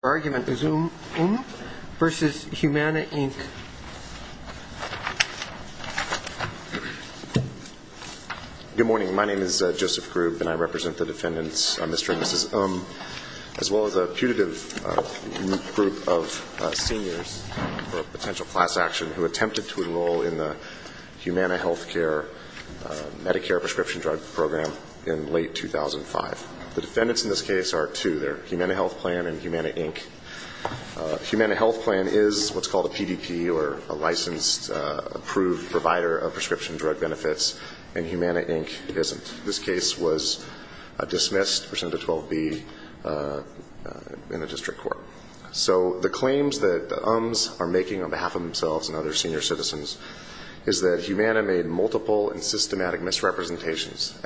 Good morning. My name is Joseph Grubb and I represent the defendants, Mr. and Mrs. Ng, as well as a putative group of seniors for potential class action who attempted to enroll in the Humana Healthcare Medicare Prescription Drug Program in late 2005. The defendants in this case are two. They're Humana Health Plan and Humana Inc. Humana Health Plan is what's called a PDP, or a licensed approved provider of prescription drug benefits, and Humana Inc. isn't. This case was dismissed, presented to 12B in the district court. So the claims that the ums are making on behalf of themselves and other senior citizens is that Humana made multiple and limited experience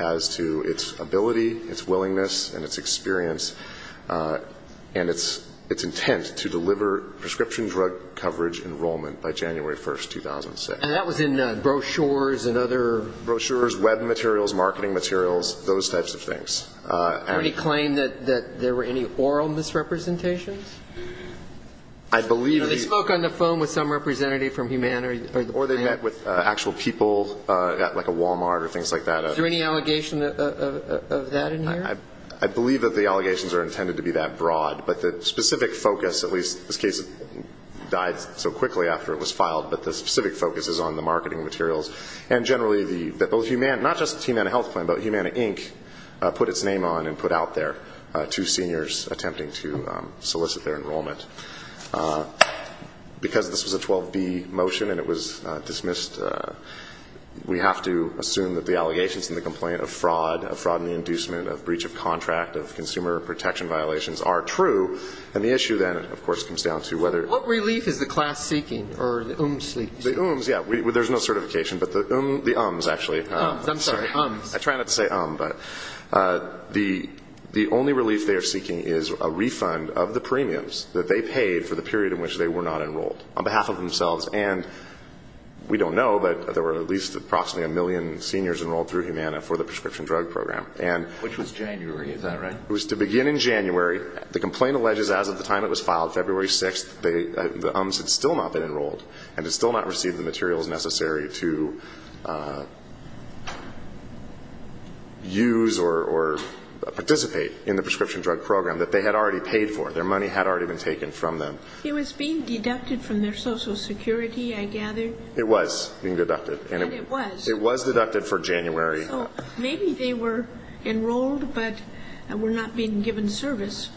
and its intent to deliver prescription drug coverage enrollment by January 1, 2006. And that was in brochures and other? Brochures, web materials, marketing materials, those types of things. Can we claim that there were any oral misrepresentations? I believe that they spoke on the phone with some representative from Humana or the plan? Or they met with actual people at like a Walmart or things like that. Is there any allegation of that in here? I believe that the allegations are intended to be that broad, but the specific focus, at least this case died so quickly after it was filed, but the specific focus is on the marketing materials. And generally, not just Humana Health Plan, but Humana Inc. put its name on and put out there two seniors attempting to solicit their enrollment. Because this was a 12B motion and it was dismissed, we have to assume that the allegations and the complaint of fraud, of fraud in the inducement, of breach of contract, of consumer protection violations are true. And the issue then, of course, comes down to whether... What relief is the class seeking or the UMS seeking? The UMS, yeah, there's no certification, but the UMS actually... UMS, I'm sorry, UMS. I try not to say UM, but the only relief they are seeking is a refund of the premiums that they paid for the period in which they were not enrolled on behalf of themselves. And we don't know, but there were at least approximately a million seniors enrolled through Humana for the prescription drug program. Which was January, is that right? It was to begin in January. The complaint alleges as of the time it was filed, February 6th, that the UMS had still not been enrolled and had still not received the materials necessary to use or participate in the prescription drug program that they had already paid for. Their money had already been taken from them. It was being deducted from their social security, I gather. It was being deducted. And it was. It was deducted for January. So maybe they were enrolled, but were not being given service.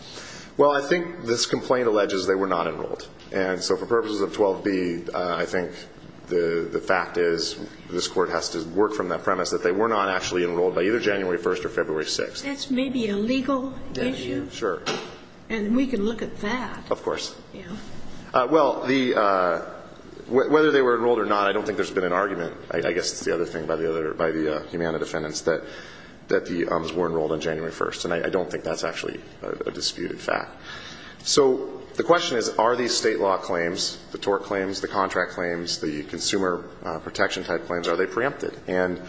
Well, I think this complaint alleges they were not enrolled. And so for purposes of 12b, I think the fact is this court has to work from that premise that they were not actually enrolled by either January 1st or February 6th. That's maybe a legal issue. Sure. And we can look at that. Of course. Yeah. Well, whether they were enrolled or not, I don't think there's been an argument. I guess it's the other thing by the Humana defendants that the UMS were enrolled on January 1st. And I don't think that's actually a disputed fact. So the question is, are these state law claims, the tort claims, the contract claims, the consumer protection type claims, are they preempted? And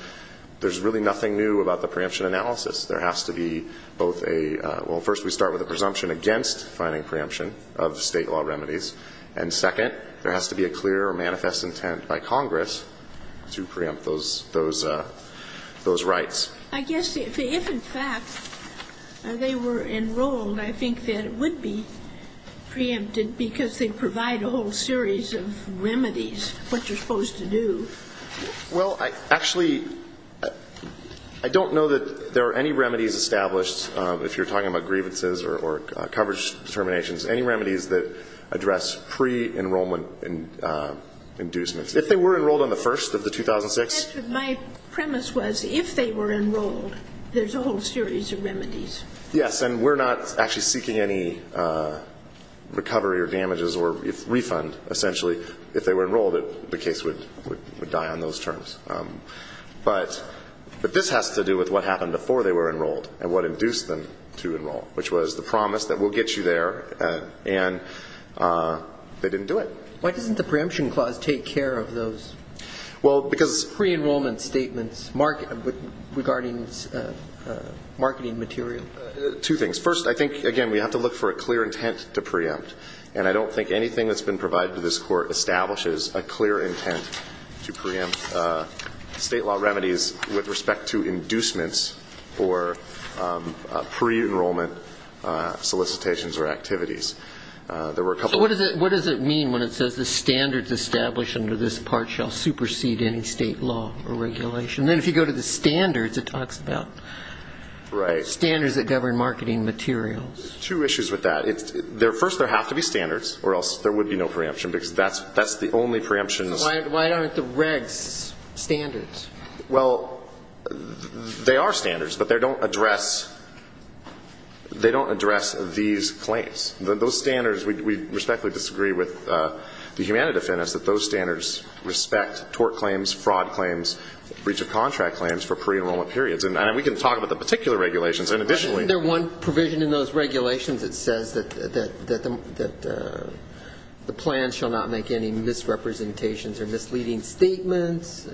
there's really nothing new about the preemption analysis. There has to be both a – well, first we start with a presumption against finding preemption of state law remedies. And second, there has to be a clear or manifest intent by Congress to preempt those rights. I guess if in fact they were enrolled, I think that it would be preempted because they provide a whole series of remedies, what you're supposed to do. Well, actually, I don't know that there are any remedies established, if you're talking about grievances or coverage determinations, any remedies that address pre-enrollment inducements. If they were enrolled on the 1st of the 2006 – My premise was if they were enrolled, there's a whole series of remedies. Yes. And we're not actually seeking any recovery or damages or refund, essentially. If they were enrolled, the case would die on those terms. But this has to do with what happened before they were enrolled and what induced them to enroll, which was the promise that we'll get you there, and they didn't do it. Why doesn't the preemption clause take care of those pre-enrollment statements regarding marketing material? Two things. First, I think, again, we have to look for a clear intent to preempt. And I don't think anything that's been provided to this Court establishes a clear intent to preempt state law remedies with respect to inducements or pre-enrollment solicitations or activities. What does it mean when it says the standards established under this part shall supersede any state law or regulation? Then if you go to the standards, it talks about standards that govern marketing materials. Two issues with that. First, there have to be standards, or else there would be no preemption, because that's the only preemption. Why aren't the regs standards? Well, they are standards, but they don't address these claims. Those standards, we respectfully disagree with the Humanity Defendants that those standards respect tort claims, fraud claims, breach of contract claims for pre-enrollment periods. And we can talk about the particular regulations. But isn't there one provision in those regulations that says that the plan shall not make any misrepresentations or misleading statements?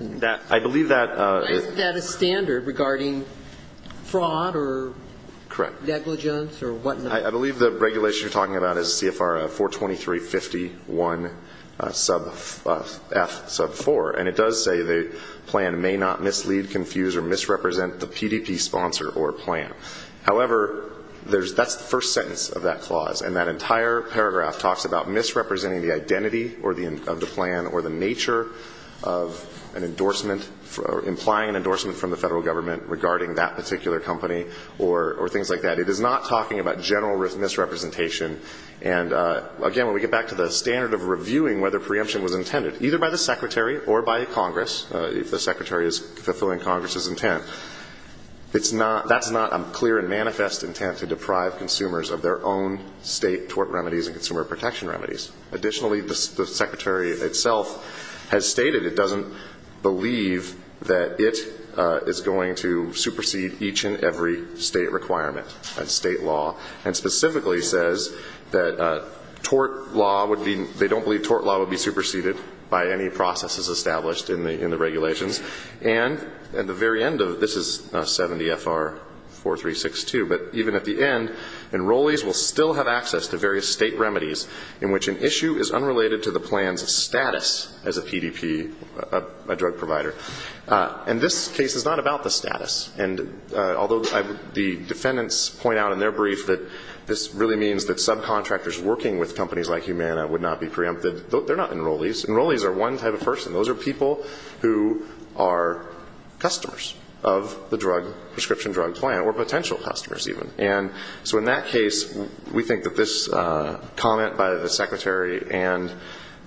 I believe that. Isn't that a standard regarding fraud or negligence or whatnot? I believe the regulation you're talking about is CFR 423.51F sub 4. And it does say the plan may not mislead, confuse, or misrepresent the PDP sponsor or plan. However, that's the first sentence of that clause. And that entire paragraph talks about misrepresenting the identity of the plan or the nature of an endorsement, implying an endorsement from the federal government regarding that particular company or things like that. It is not talking about general misrepresentation. And again, when we get back to the standard of reviewing whether preemption was intended, either by the Secretary or by Congress, if the Secretary is fulfilling Congress's intent, that's not a clear and manifest intent to deprive consumers of their own state tort remedies and consumer protection remedies. Additionally, the Secretary itself has stated it doesn't believe that it is going to supersede each and every state requirement and state law, and specifically says that they don't believe tort law would be superseded by any processes established in the regulations. And at the very end of it, this is 70 FR 4362, but even at the end, enrollees will still have access to various state remedies in which an issue is unrelated to the plan's status as a PDP, a drug provider. And this case is not about the status. And although the defendants point out in their brief that this really means that subcontractors working with companies like Humana would not be preempted, they're not enrollees. Enrollees are one type of person. Those are people who are customers of the drug prescription drug plan, or potential customers even. And so in that case, we think that this comment by the Secretary and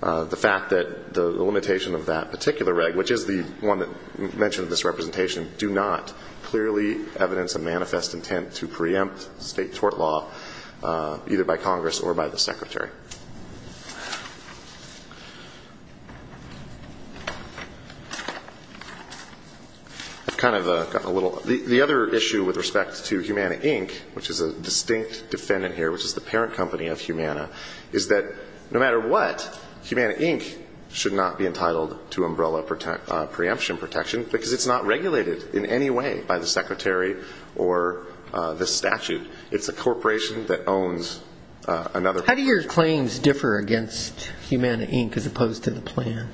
the fact that the limitation of that particular reg, which is the one that mentioned in this representation, do not clearly evidence a manifest intent to preempt state tort law either by Congress or by the Secretary. The other issue with respect to Humana, Inc., which is a distinct defendant here, which is the parent company of Humana, is that no matter what, Humana, Inc. should not be entitled to umbrella preemption protection because it's not regulated in any way by the Secretary or the statute. It's a corporation that owns another company. How do your claims differ against Humana, Inc. as opposed to the plan?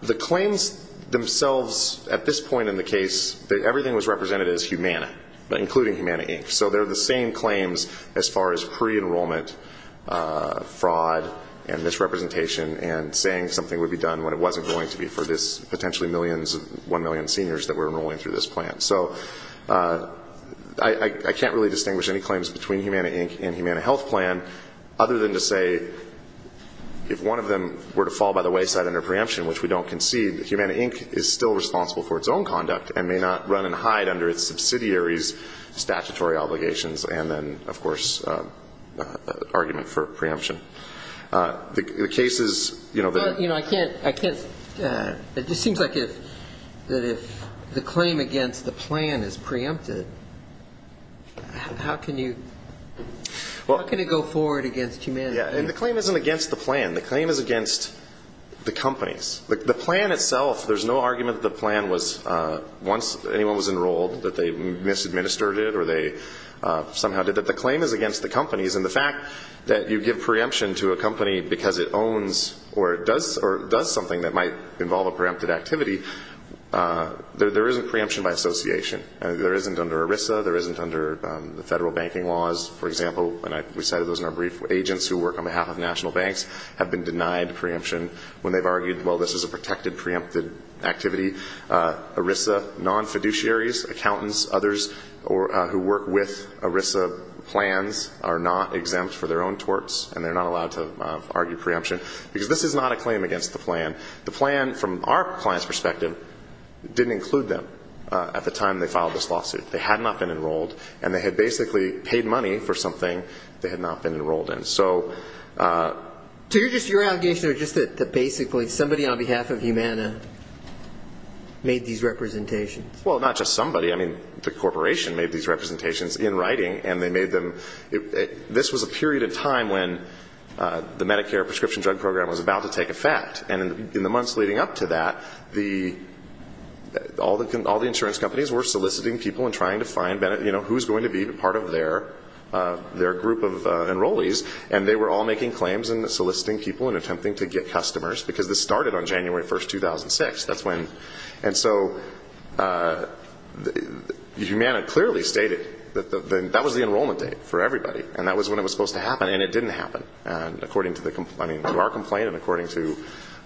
The claims themselves at this point in the case, everything was represented as Humana, including Humana, Inc. So they're the same claims as far as pre-enrollment fraud and misrepresentation and saying something would be done when it wasn't going to be for this potentially millions, one million seniors that were enrolling through this plan. So I can't really distinguish any claims between Humana, Inc. and Humana Health Plan other than to say if one of them were to fall by the wayside under preemption, which we don't concede, Humana, Inc. is still responsible for its own conduct and may not run and hide under its subsidiary's statutory obligations and then, of course, argument for preemption. The case is, you know, the... Well, you know, I can't, I can't... It just seems like if, that if the claim against the plan is preempted, how can you, how can it go forward against Humana, Inc.? Yeah, and the claim isn't against the plan. The claim is against the companies. The plan itself, there's no argument that the plan was, once anyone was enrolled, that they misadministered it or they somehow did it. The claim is against the companies and the fact that you give preemption to a company because it owns or does something that might involve a preempted activity, there isn't preemption by association. There isn't under ERISA. There isn't under the federal banking laws. For example, and we cited those in our brief, agents who work on behalf of national banks have been denied preemption when they've argued, well, this is a protected, preempted activity. ERISA non-fiduciaries, accountants, others who work with ERISA plans are not exempt for their own torts and they're not allowed to argue preemption because this is not a claim against the plan. The plan, from our client's perspective, didn't include them at the time they filed this lawsuit. They had not been enrolled and they had basically paid money for something they had not been enrolled in. So... So you're just, your allegation is just that basically somebody on behalf of Humana made these representations. Well, not just somebody. I mean, the corporation made these representations in writing and they made them... This was a period of time when the Medicare prescription drug program was about to take effect. And in the months leading up to that, all the insurance companies were soliciting people and trying to find who's going to be part of their group of enrollees and they were all making claims and soliciting people and attempting to get customers because this started on January 1st, 2006. That's when... And so... Humana clearly stated that was the enrollment date for everybody and that was when it was supposed to happen and it didn't happen. And according to our complaint and according to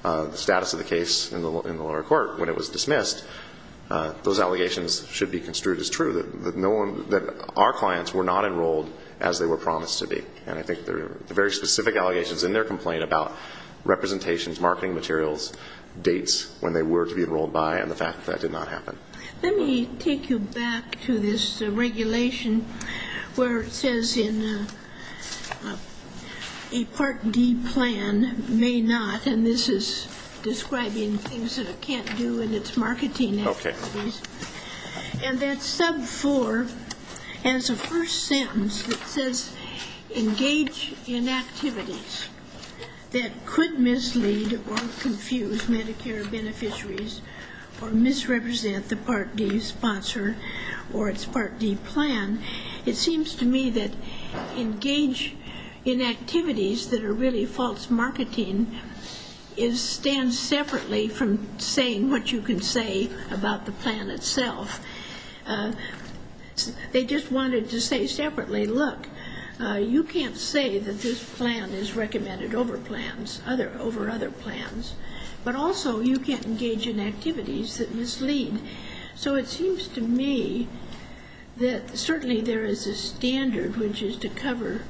the status of the case in the lower court when it was dismissed, those allegations should be construed as true. That our clients were not enrolled as they were promised to be. And I think the very specific allegations in their complaint about representations, marketing materials, dates when they were to be enrolled by and the fact that that did not happen. Let me take you back to this regulation where it says in a Part D plan may not, and this is describing things that it can't do in its marketing activities. And that sub 4 has a first sentence that says engage in activities that could mislead or confuse Medicare beneficiaries or misrepresent the Part D sponsor or its Part D plan. It seems to me that engage in activities that are really false marketing stands separately from saying what you can say about the plan itself. They just wanted to say separately, look you can't say that this plan is recommended over plans over other plans, but also you can't engage in activities that mislead. So it seems to me that certainly there is a standard which is to cover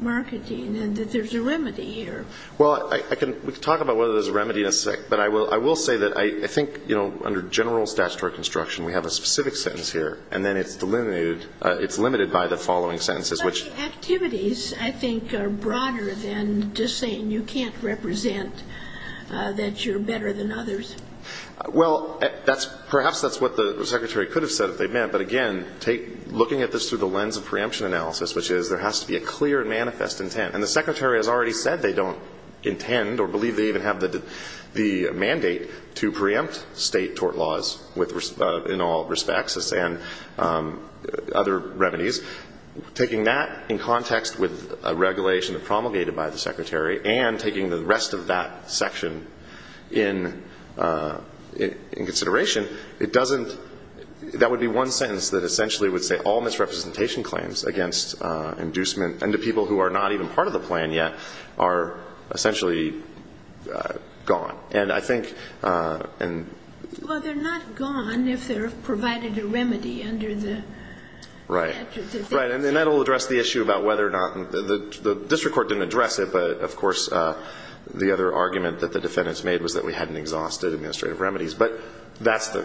marketing and that there's a remedy here. Well, we can talk about whether there's a remedy in a sec, but I will say that I think under general statutory construction we have a specific sentence here and then it's delimited by the following sentences. But the activities I think are broader than just saying you can't represent that you're better than others. Well, perhaps that's what the Secretary could have said if they meant, but again looking at this through the lens of preemption analysis which is there has to be a clear manifest intent. And the Secretary has already said they don't intend or believe they even have the mandate to preempt state tort laws in all respects and other remedies. Taking that in context with a regulation promulgated by the Secretary and taking the rest of that section in consideration, it doesn't that would be one sentence that essentially would say all misrepresentation claims against inducement and to people who are not even part of the plan yet are essentially gone. And I think Well, they're not gone if they're provided a remedy under the Right. And that will address the issue about whether or not, the district court didn't address it, but of course the other argument that the defendants made was that we hadn't exhausted administrative remedies. But that's the,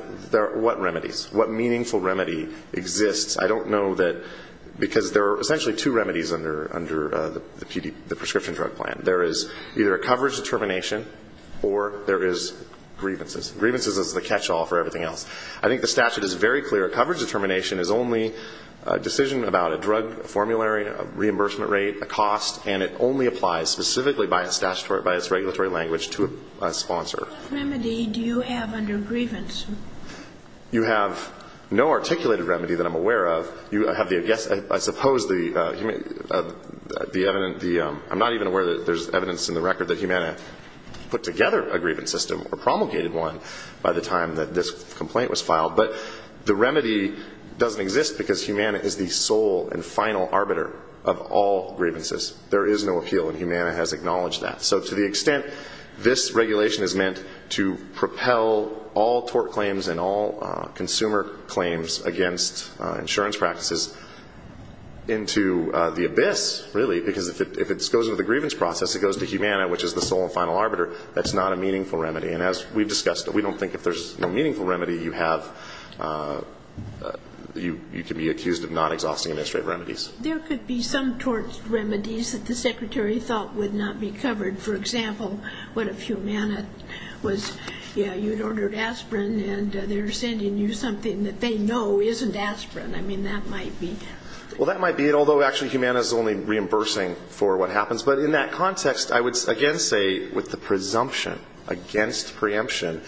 what remedies? What meaningful remedy exists? I don't know that because there are essentially two remedies under the prescription drug plan. There is either a coverage determination or there is grievances. Grievances is the catch-all for everything else. I think the statute is very clear. Coverage determination is only a decision about a drug formulary, a reimbursement rate, a cost, and it only applies specifically by its statutory, by its regulatory language to a sponsor. What remedy do you have under grievance? You have no articulated remedy that I'm aware of. You have the, yes, I suppose the evidence, I'm not even aware that there's evidence in the record that Humana put together a grievance system or promulgated one by the time that this complaint was filed, but the remedy doesn't exist because Humana is the sole and final arbiter of all grievances. There is no appeal and Humana has acknowledged that. So to the extent this regulation is meant to propel all tort claims and all consumer claims against insurance practices into the abyss, really, because if it goes into the grievance process, it goes to Humana, which is the sole and final arbiter, that's not a meaningful remedy. And as we've discussed, we don't think if there's a meaningful remedy, you have, you can be accused of not exhausting administrative remedies. There could be some tort remedies that the Secretary thought would not be covered. For example, what if Humana was, yeah, you'd ordered aspirin and they're sending you something that they know isn't aspirin. I mean, that might be. Well, that might be although actually Humana is only reimbursing for what happens. But in that context, I would again say with the presumption against preemption,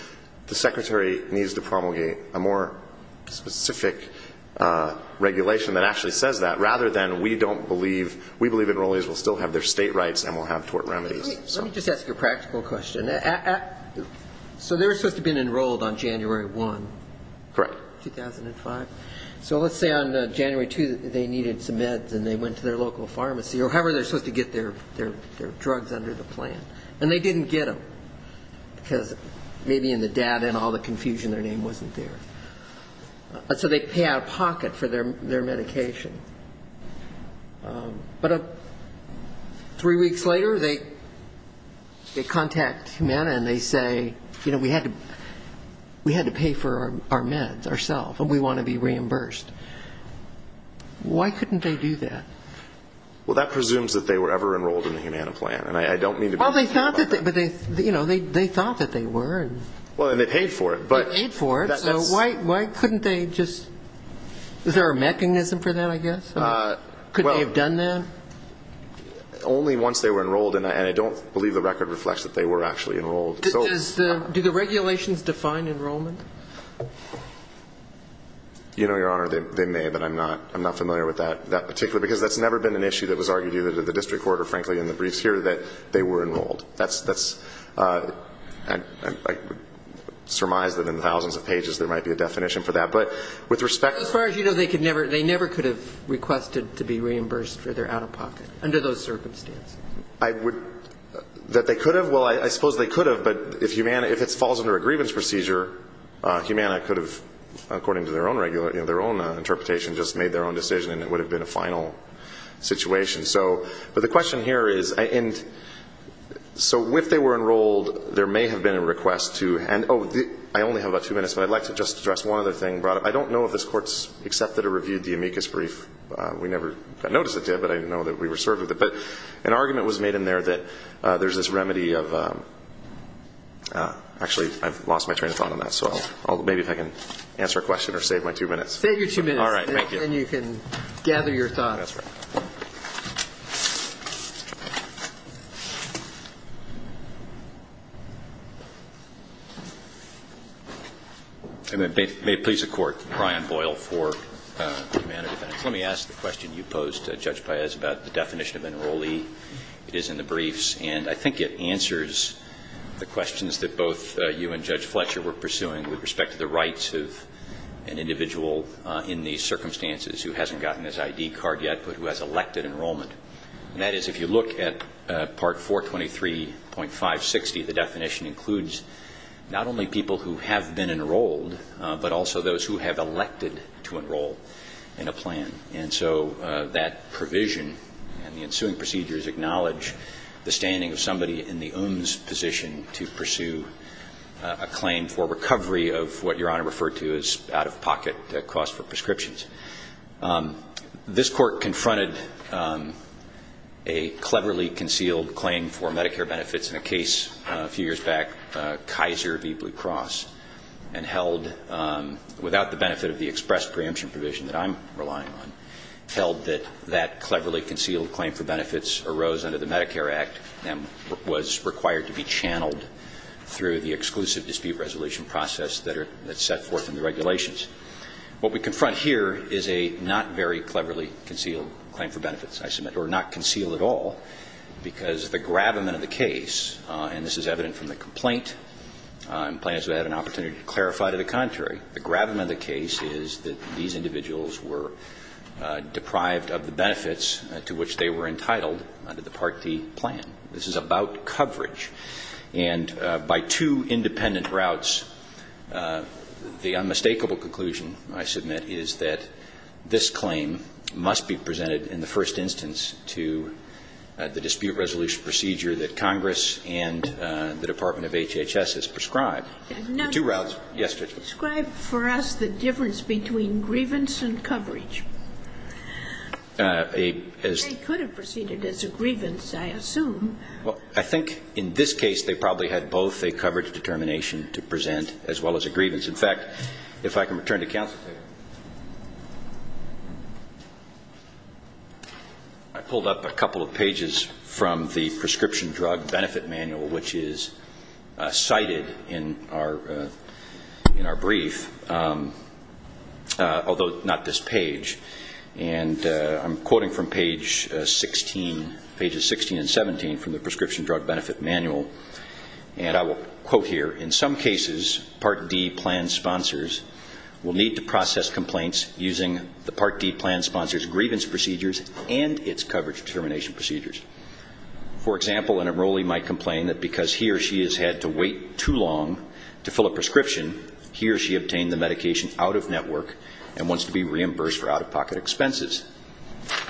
the Secretary needs to promulgate a more specific regulation that actually says that, rather than we don't believe we believe enrollees will still have their state rights and will have tort remedies. Let me just ask a practical question. So they were supposed to have been enrolled on January 1. Correct. 2005. So let's say on and they went to their local pharmacy or however they're supposed to get their drugs under the plan. And they didn't get them because maybe in the data and all the confusion, their name wasn't there. So they pay out of pocket for their medication. But three weeks later, they contact Humana and they say you know, we had to pay for our meds ourselves and we want to be reimbursed. Why couldn't they do that? Well, that presumes that they were ever enrolled in the Humana plan. And I don't mean to be Well, they thought that they were. Well, and they paid for it. They paid for it. So why couldn't they just Is there a mechanism for that, I guess? Could they have done that? Only once they were enrolled. And I don't believe the record reflects that they were actually enrolled. Do the regulations define enrollment? You know, Your Honor, they may. But I'm not familiar with that because that's never been an issue that was argued either to the district court or frankly in the briefs here that they were enrolled. I surmise that in the thousands of pages there might be a definition for that. But with respect As far as you know, they never could have requested to be reimbursed for their out-of-pocket under those circumstances. That they could have? Well, I suppose they could have, but if it falls under a grievance procedure Humana could have according to their own interpretation just made their own decision and it would have been a final situation. But the question here is So if they were enrolled there may have been a request to Oh, I only have about two minutes, but I'd like to just address one other thing brought up. I don't know if this court has accepted or reviewed the amicus brief We never got notice of it but I know that we were served with it. An argument was made in there that there's this remedy of Actually I've lost my train of thought on that Maybe if I can answer a question or save my two minutes Save your two minutes and you can gather your thoughts May it please the Court, Brian Boyle for Humana Defendants. Let me ask the question you posed, Judge Paez, about the definition of enrollee. It is in the briefs and I think it answers the questions that both you and Judge Fletcher were pursuing with respect to the rights of an individual in these circumstances who hasn't gotten his ID card yet, but who has elected enrollment That is, if you look at Part 423.560 the definition includes not only people who have been enrolled, but also those who have elected to enroll in a plan. And so that provision and the ensuing procedures acknowledge the standing of somebody in the OMS position to pursue a claim for recovery of what Your Honor referred to as out-of-pocket costs for prescriptions This Court confronted a cleverly concealed claim for Medicare benefits in a case a few years back, Kaiser v. Blue Cross, and held without the benefit of the express preemption provision that I'm relying on held that that cleverly under the Medicare Act was required to be channeled through the exclusive dispute resolution process that's set forth in the regulations What we confront here is a not very cleverly concealed claim for benefits, I submit, or not concealed at all, because the gravamen of the case and this is evident from the complaint plaintiffs have had an opportunity to clarify to the contrary, the gravamen of the case is that these individuals were deprived of the benefits to which they were entitled under the Part D plan. This is about coverage and by two independent routes the unmistakable conclusion I submit is that this claim must be presented in the first instance to the dispute resolution procedure that Congress and the Department of HHS has prescribed the two routes Describe for us the difference between grievance and coverage They could have proceeded as a grievance I assume I think in this case they probably had both a coverage determination to present as well as a grievance In fact, if I can return to counsel I pulled up a couple of pages from the Prescription Drug Benefit Manual which is cited in our brief although not this page I'm quoting from pages 16 and 17 from the Prescription Drug Benefit Manual and I will quote here, in some cases Part D plan sponsors will need to process complaints using the Part D plan sponsor's grievance procedures and its coverage determination procedures For example, an enrollee might complain that because he or she has had to wait too long to fill a prescription he or she obtained the medication out of network and wants to be reimbursed for out-of-pocket expenses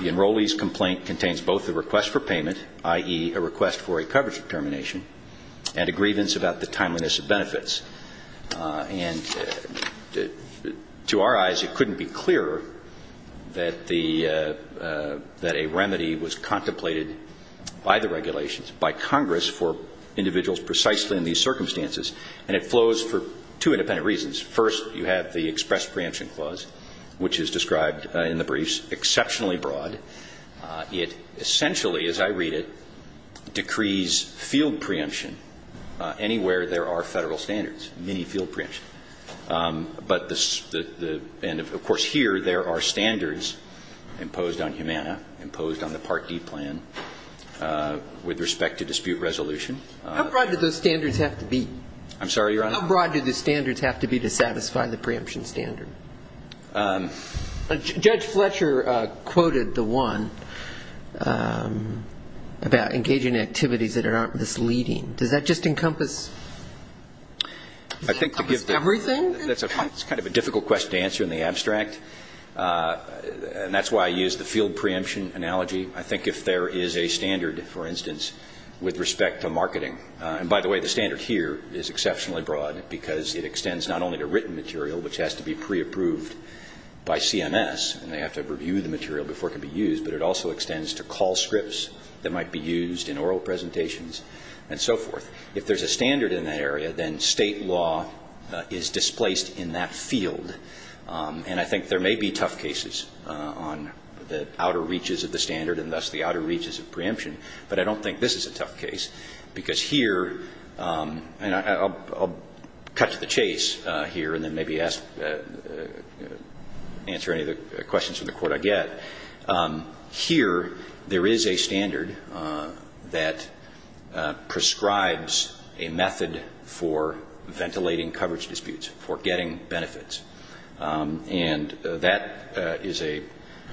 The enrollee's complaint contains both a request for payment i.e. a request for a coverage determination and a grievance about the timeliness of benefits and to our eyes, it couldn't be clearer that the that a remedy was contemplated by the regulations by Congress for individuals precisely in these circumstances and it flows for two independent reasons First, you have the Express Preemption Clause which is described in the briefs exceptionally broad it essentially, as I read it decrees field preemption anywhere there are federal standards many field preemption and of course here there are standards imposed on Humana, imposed on the Part D plan with respect to dispute resolution How broad do those standards have to be? I'm sorry, Your Honor? How broad do the standards have to be to satisfy the preemption standard? Judge Fletcher quoted the one about engaging in activities that aren't misleading does that just encompass everything? That's kind of a difficult question to answer in the abstract and that's why I use the field preemption analogy I think if there is a standard for instance, with respect to marketing and by the way, the standard here is exceptionally broad because it extends not only to written material which has to be pre-approved by CMS and they have to review the material before it can be used but it also extends to call scripts that might be used in oral presentations and so forth if there's a standard in that area then state law is displaced in that field and I think there may be tough cases on the outer reaches of the standard and thus the outer reaches of preemption but I don't think this is a tough case because here and I'll cut to the chase here and then maybe ask answer any questions from the court I get here, there is a standard that prescribes a method for ventilating coverage disputes for getting benefits and that is a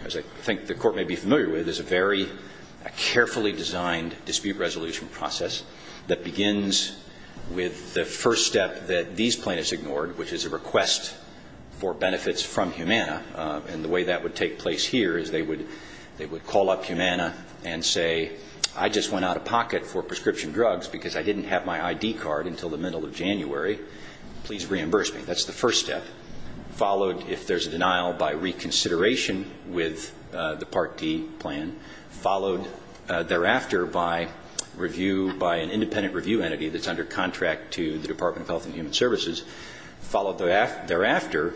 I think the court may be familiar with a very carefully designed dispute resolution process that begins with the first step that these plaintiffs ignored which is a request for benefits from Humana and the way that would take place here is they would call up Humana and say I just went out of pocket for prescription drugs because I didn't have my ID card until the middle of January please reimburse me, that's the first step followed if there's a denial by reconsideration with the Part D plan followed thereafter by an independent review entity that's under contract to the Department of Health and Human Services followed thereafter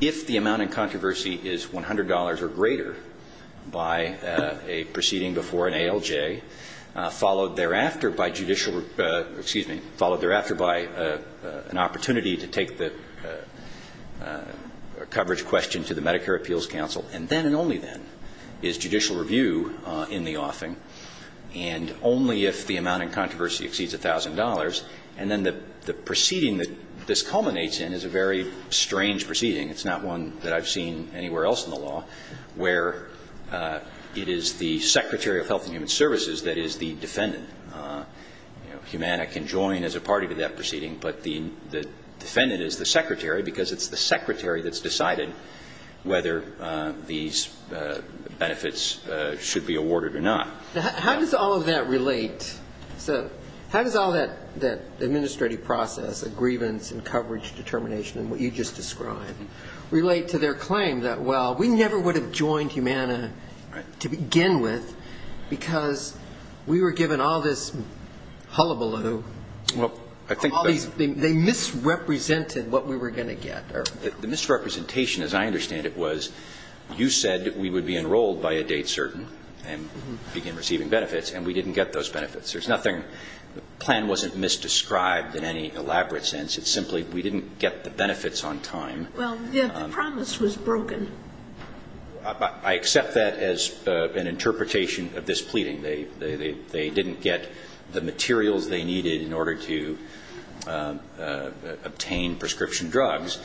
if the amount in controversy is $100 or greater by a proceeding before an ALJ, followed thereafter by judicial followed thereafter by an opportunity to take the coverage question to the Medicare Appeals Council and then and only then is judicial review in the offing and only if the amount in controversy exceeds $1,000 and then the proceeding that this culminates in is a very strange proceeding it's not one that I've seen anywhere else in the law where it is the Secretary of Health and Human Services that is the defendant Humana can join as a party to that proceeding but the defendant is the secretary because it's the secretary that's decided whether these benefits should be awarded or not. How does all of that relate how does all that administrative process of grievance and coverage determination and what you just described relate to their claim that well we never would have joined Humana to begin with because we were given all this hullabaloo they misrepresented what we were going to get the misrepresentation as I understand it was you said we would be enrolled by a date certain and begin receiving benefits and we didn't get those benefits there's nothing, the plan wasn't misdescribed in any elaborate sense it's simply we didn't get the benefits on time well the promise was broken I accept that as an interpretation of this pleading they didn't get the materials they needed in order to obtain prescription drugs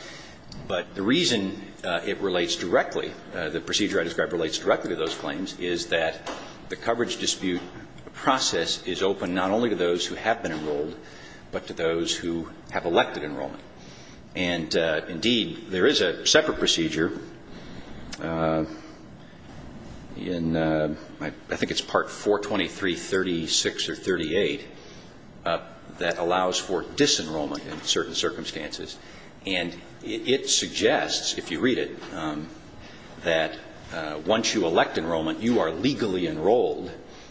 but the reason it relates directly the procedure I described relates directly to those claims is that the coverage dispute process is open not only to those who have been enrolled but to those who have elected enrollment and indeed there is a separate procedure I think it's part 42336 or 38 that allows for disenrollment in certain circumstances and it suggests if you read it that once you elect enrollment you are legally enrolled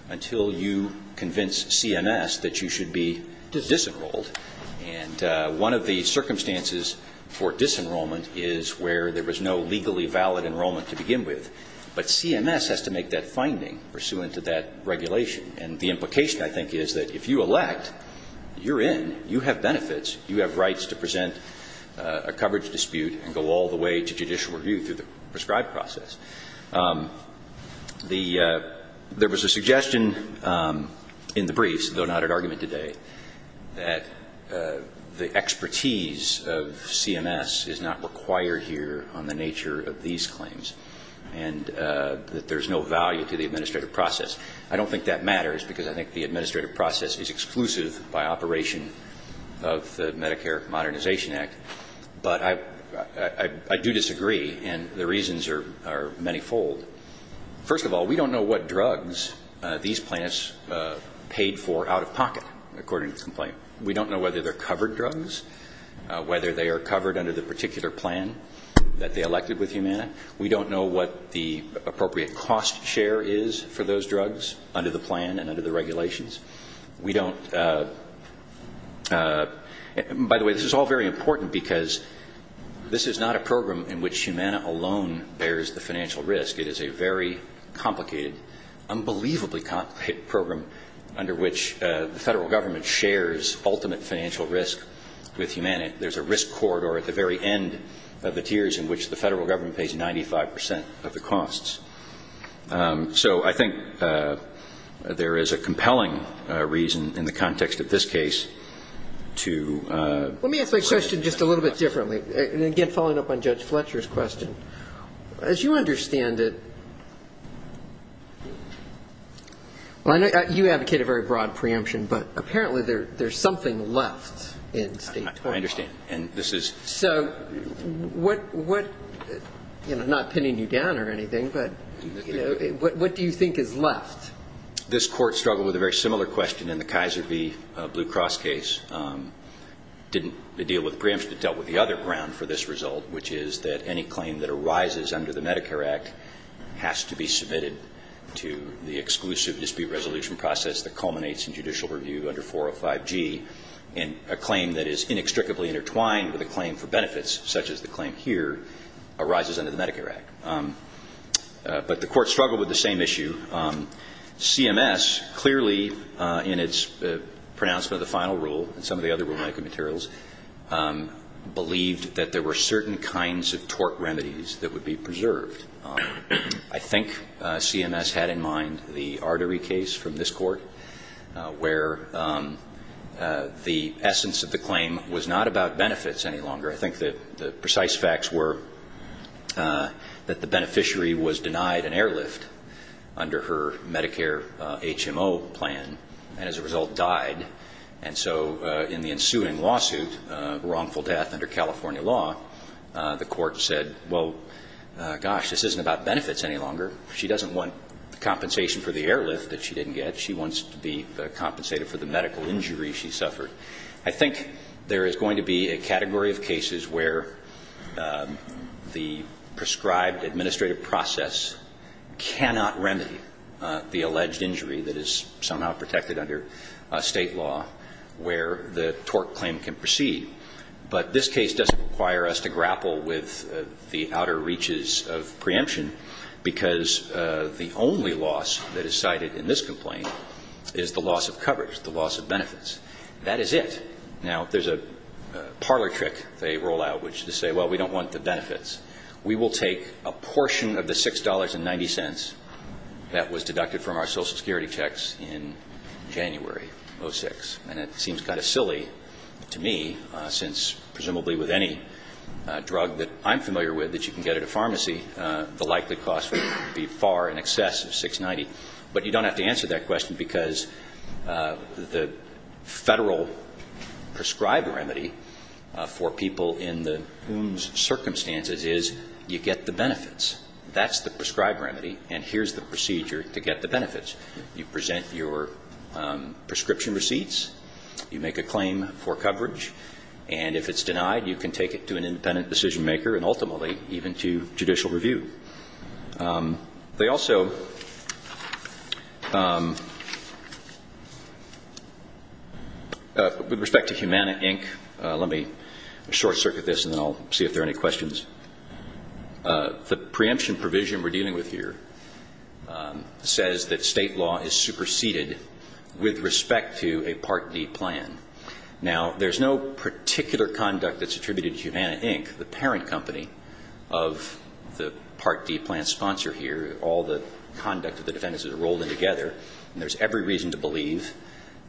until you convince CMS that you should be disenrolled and one of the circumstances for disenrollment is where there was no legally valid enrollment to begin with but CMS has to make that finding pursuant to that regulation and the implication I think is that if you elect, you're in you have benefits, you have rights to present a coverage dispute and go all the way to judicial review through the prescribed process there was a suggestion in the briefs, though not at argument today that the expertise of CMS is not required here on the nature of these claims and that there is no value to the administrative process I don't think that matters because I think the administrative process is exclusive by operation of the Medicare Modernization Act but I do disagree and the reasons are many fold first of all, we don't know what drugs these plaintiffs paid for out of pocket according to the complaint we don't know whether they're covered drugs whether they are covered under the particular plan that they elected with Humana we don't know what the appropriate cost share is for those drugs under the plan and under the regulations we don't by the way this is all very important because this is not a program in which Humana alone bears the financial risk it is a very complicated unbelievably complicated program under which the federal government shares ultimate financial risk with Humana there's a risk corridor at the very end of the tiers in which the federal government pays 95% of the costs so I think there is a compelling reason in the context of this case to let me ask my question just a little bit differently again following up on Judge Fletcher's question as you understand it you advocated a very broad preemption but apparently there's something left in state law I understand so what not pinning you down or anything but what do you think is left? this court struggled with a very similar question in the Kaiser V Blue Cross case didn't deal with preemption it dealt with the other ground for this result which is that any claim that arises under the Medicare Act has to be submitted to the exclusive dispute resolution process that culminates in judicial review under 405G a claim that is inextricably intertwined with a claim for benefits such as the claim here arises under the Medicare Act but the court struggled with the same issue CMS clearly in its pronouncement of the final rule and some of the other rulemaking materials believed that there were certain kinds of tort remedies that would be preserved I think CMS had in mind the artery case from this court where the essence of the claim was not about benefits any longer I think the precise facts were that the beneficiary was denied an airlift under her Medicare HMO plan and as a result died and so in the ensuing lawsuit wrongful death under California law the court said well gosh this isn't about benefits any longer she doesn't want compensation for the airlift that she didn't get she wants to be compensated for the medical injury she suffered I think there is going to be a category of cases where the prescribed administrative process cannot remedy the alleged injury that is somehow protected under state law where the tort claim can proceed but this case doesn't require us to grapple with the outer reaches of preemption because the only loss that is cited in this complaint is the loss of coverage, the loss of benefits that is it. Now there is a parlor trick they roll out which is to say well we don't want the benefits we will take a portion of the $6.90 that was deducted from our social security checks in January 06 and it seems kind of silly to me since presumably with any drug that I'm familiar with that you can get at a pharmacy the likely cost would be far in excess of $6.90 but you don't have to answer that question because the federal prescribed remedy for people in the circumstances is you get the benefits that is the prescribed remedy and here is the procedure to get the benefits you present your prescription receipts you make a claim for coverage and if it is denied you can take it to an independent decision maker and ultimately even to judicial review with respect to Humana Inc let me short circuit this and then I will see if there are any questions the preemption provision we are dealing with here says that state law is superseded with respect to a Part D plan now there is no particular conduct that is attributed to Humana Inc the parent company of the Part D plan sponsor here all the conduct of the defendants is rolled in together and there is every reason to believe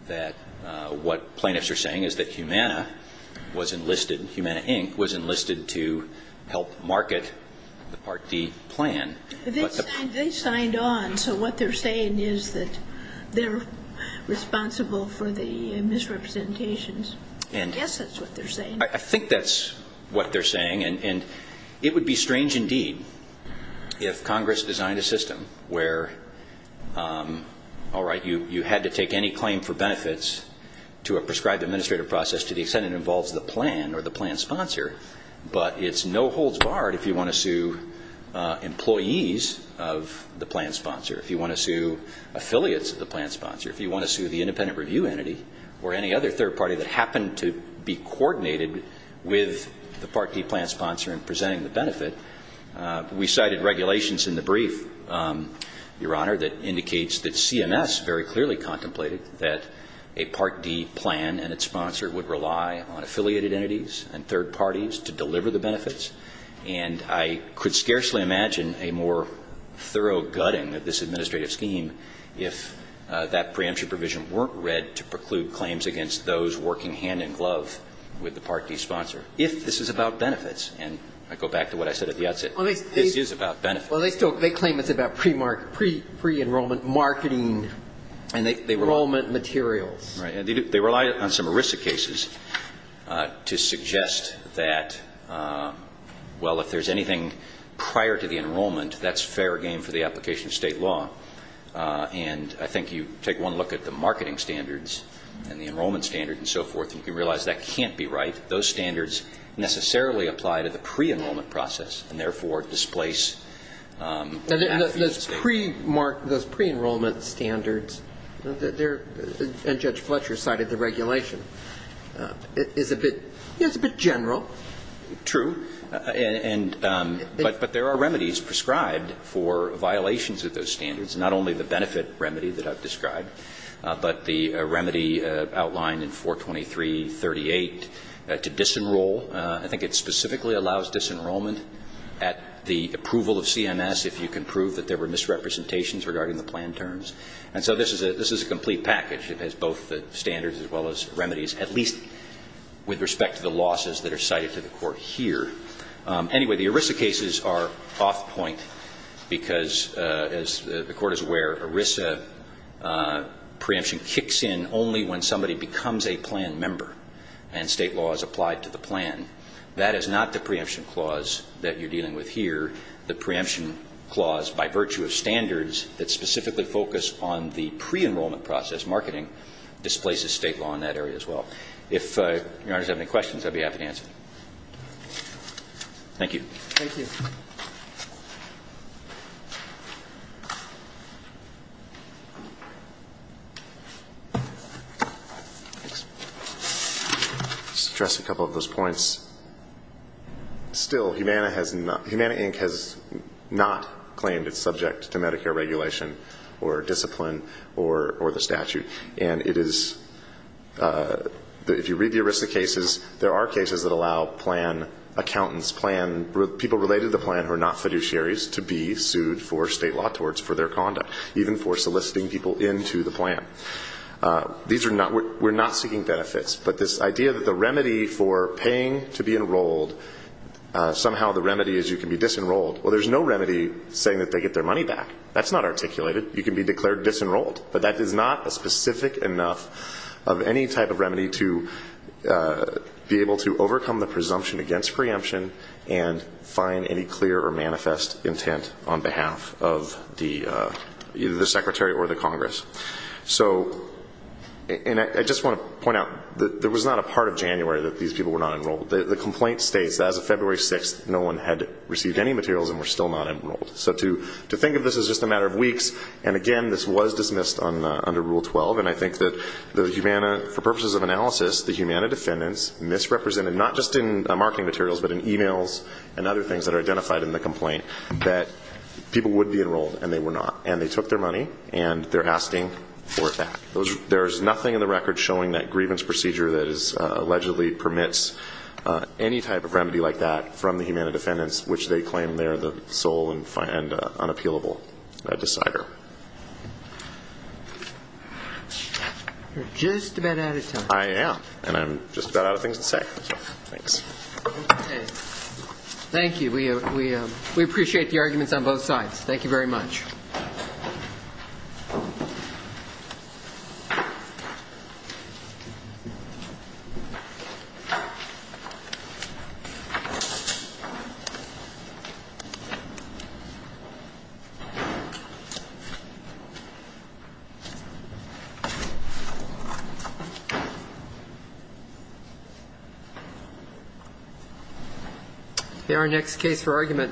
that what plaintiffs are saying is that Humana was enlisted, Humana Inc was enlisted to help market the Part D plan they signed on so what they are saying is that they are responsible for the misrepresentations I guess that is what they are saying I think that is what they are saying and it would be strange indeed if Congress designed a system where alright you had to take any claim for benefits to a prescribed administrative process to the extent it involves the plan or the plan sponsor but it is no holds barred if you want to sue employees of the plan sponsor if you want to sue affiliates of the plan sponsor if you want to sue the independent review entity or any other third party that happened to be coordinated with the Part D plan sponsor in presenting the benefit we cited regulations in the brief your honor that indicates that CMS very clearly contemplated that a Part D plan and its sponsor would rely on affiliated entities and third parties to deliver the benefits and I could scarcely imagine a more thorough gutting of this administrative scheme if that preemption provision weren't read to preclude claims against those working hand in glove with the Part D sponsor if this is about benefits and I go back to what I said at the outset this is about benefits they claim it is about pre-enrollment marketing enrollment materials they rely on some ERISA cases to suggest that well if there is anything prior to the enrollment that's fair game for the application of state law and I think you take one look at the marketing standards and the enrollment standards and so forth you can realize that can't be right those standards necessarily apply to the pre-enrollment process and therefore displace those pre-enrollment standards and Judge Fletcher cited the regulation is a bit general true but there are remedies prescribed for violations of those standards not only the benefit remedy that I've described but the remedy outlined in 423.38 to disenroll I think it specifically allows disenrollment at the approval of CMS if you can prove that there were misrepresentations regarding the plan terms and so this is a complete package it has both the standards as well as remedies at least with respect to the anyway the ERISA cases are off point because as the court is aware ERISA preemption kicks in only when somebody becomes a plan member and state law is applied to the plan that is not the preemption clause that you're dealing with here the preemption clause by virtue of standards that specifically focus on the pre-enrollment process marketing displaces state law in that area as well if your honors have any questions I'd be happy to answer thank you I'll just address a couple of those points still Humana has not Humana Inc has not claimed it's subject to Medicare regulation or discipline or the statute and it is if you read the ERISA cases there are cases that allow plan accountants people related to the plan who are not fiduciaries to be sued for state law for their conduct even for soliciting people into the plan we're not seeking benefits but this idea that the remedy for paying to be enrolled somehow the remedy is you can be disenrolled well there's no remedy saying that they get their money back that's not articulated you can be declared disenrolled but that is not a specific enough of any type of remedy to be able to overcome the presumption against preemption and find any clear or manifest intent on behalf of the secretary or the congress I just want to point out there was not a part of January that these people were not enrolled the complaint states that as of February 6th no one had received any materials and were still not enrolled so to think of this as just a matter of weeks and again this was dismissed under rule 12 and I think that for purposes of analysis the Humana defendants misrepresented not just in marketing materials but in emails and other things that are identified in the complaint that people would be enrolled and they were not and they took their money and they're asking for it back there's nothing in the record showing that grievance procedure that is allegedly permits any type of remedy like that from the Humana defendants which they claim they're the sole and unappealable decider you're just about out of time I am and I'm just about out of things to say thanks thank you we appreciate the arguments on both sides thank you very much thank you our next case for argument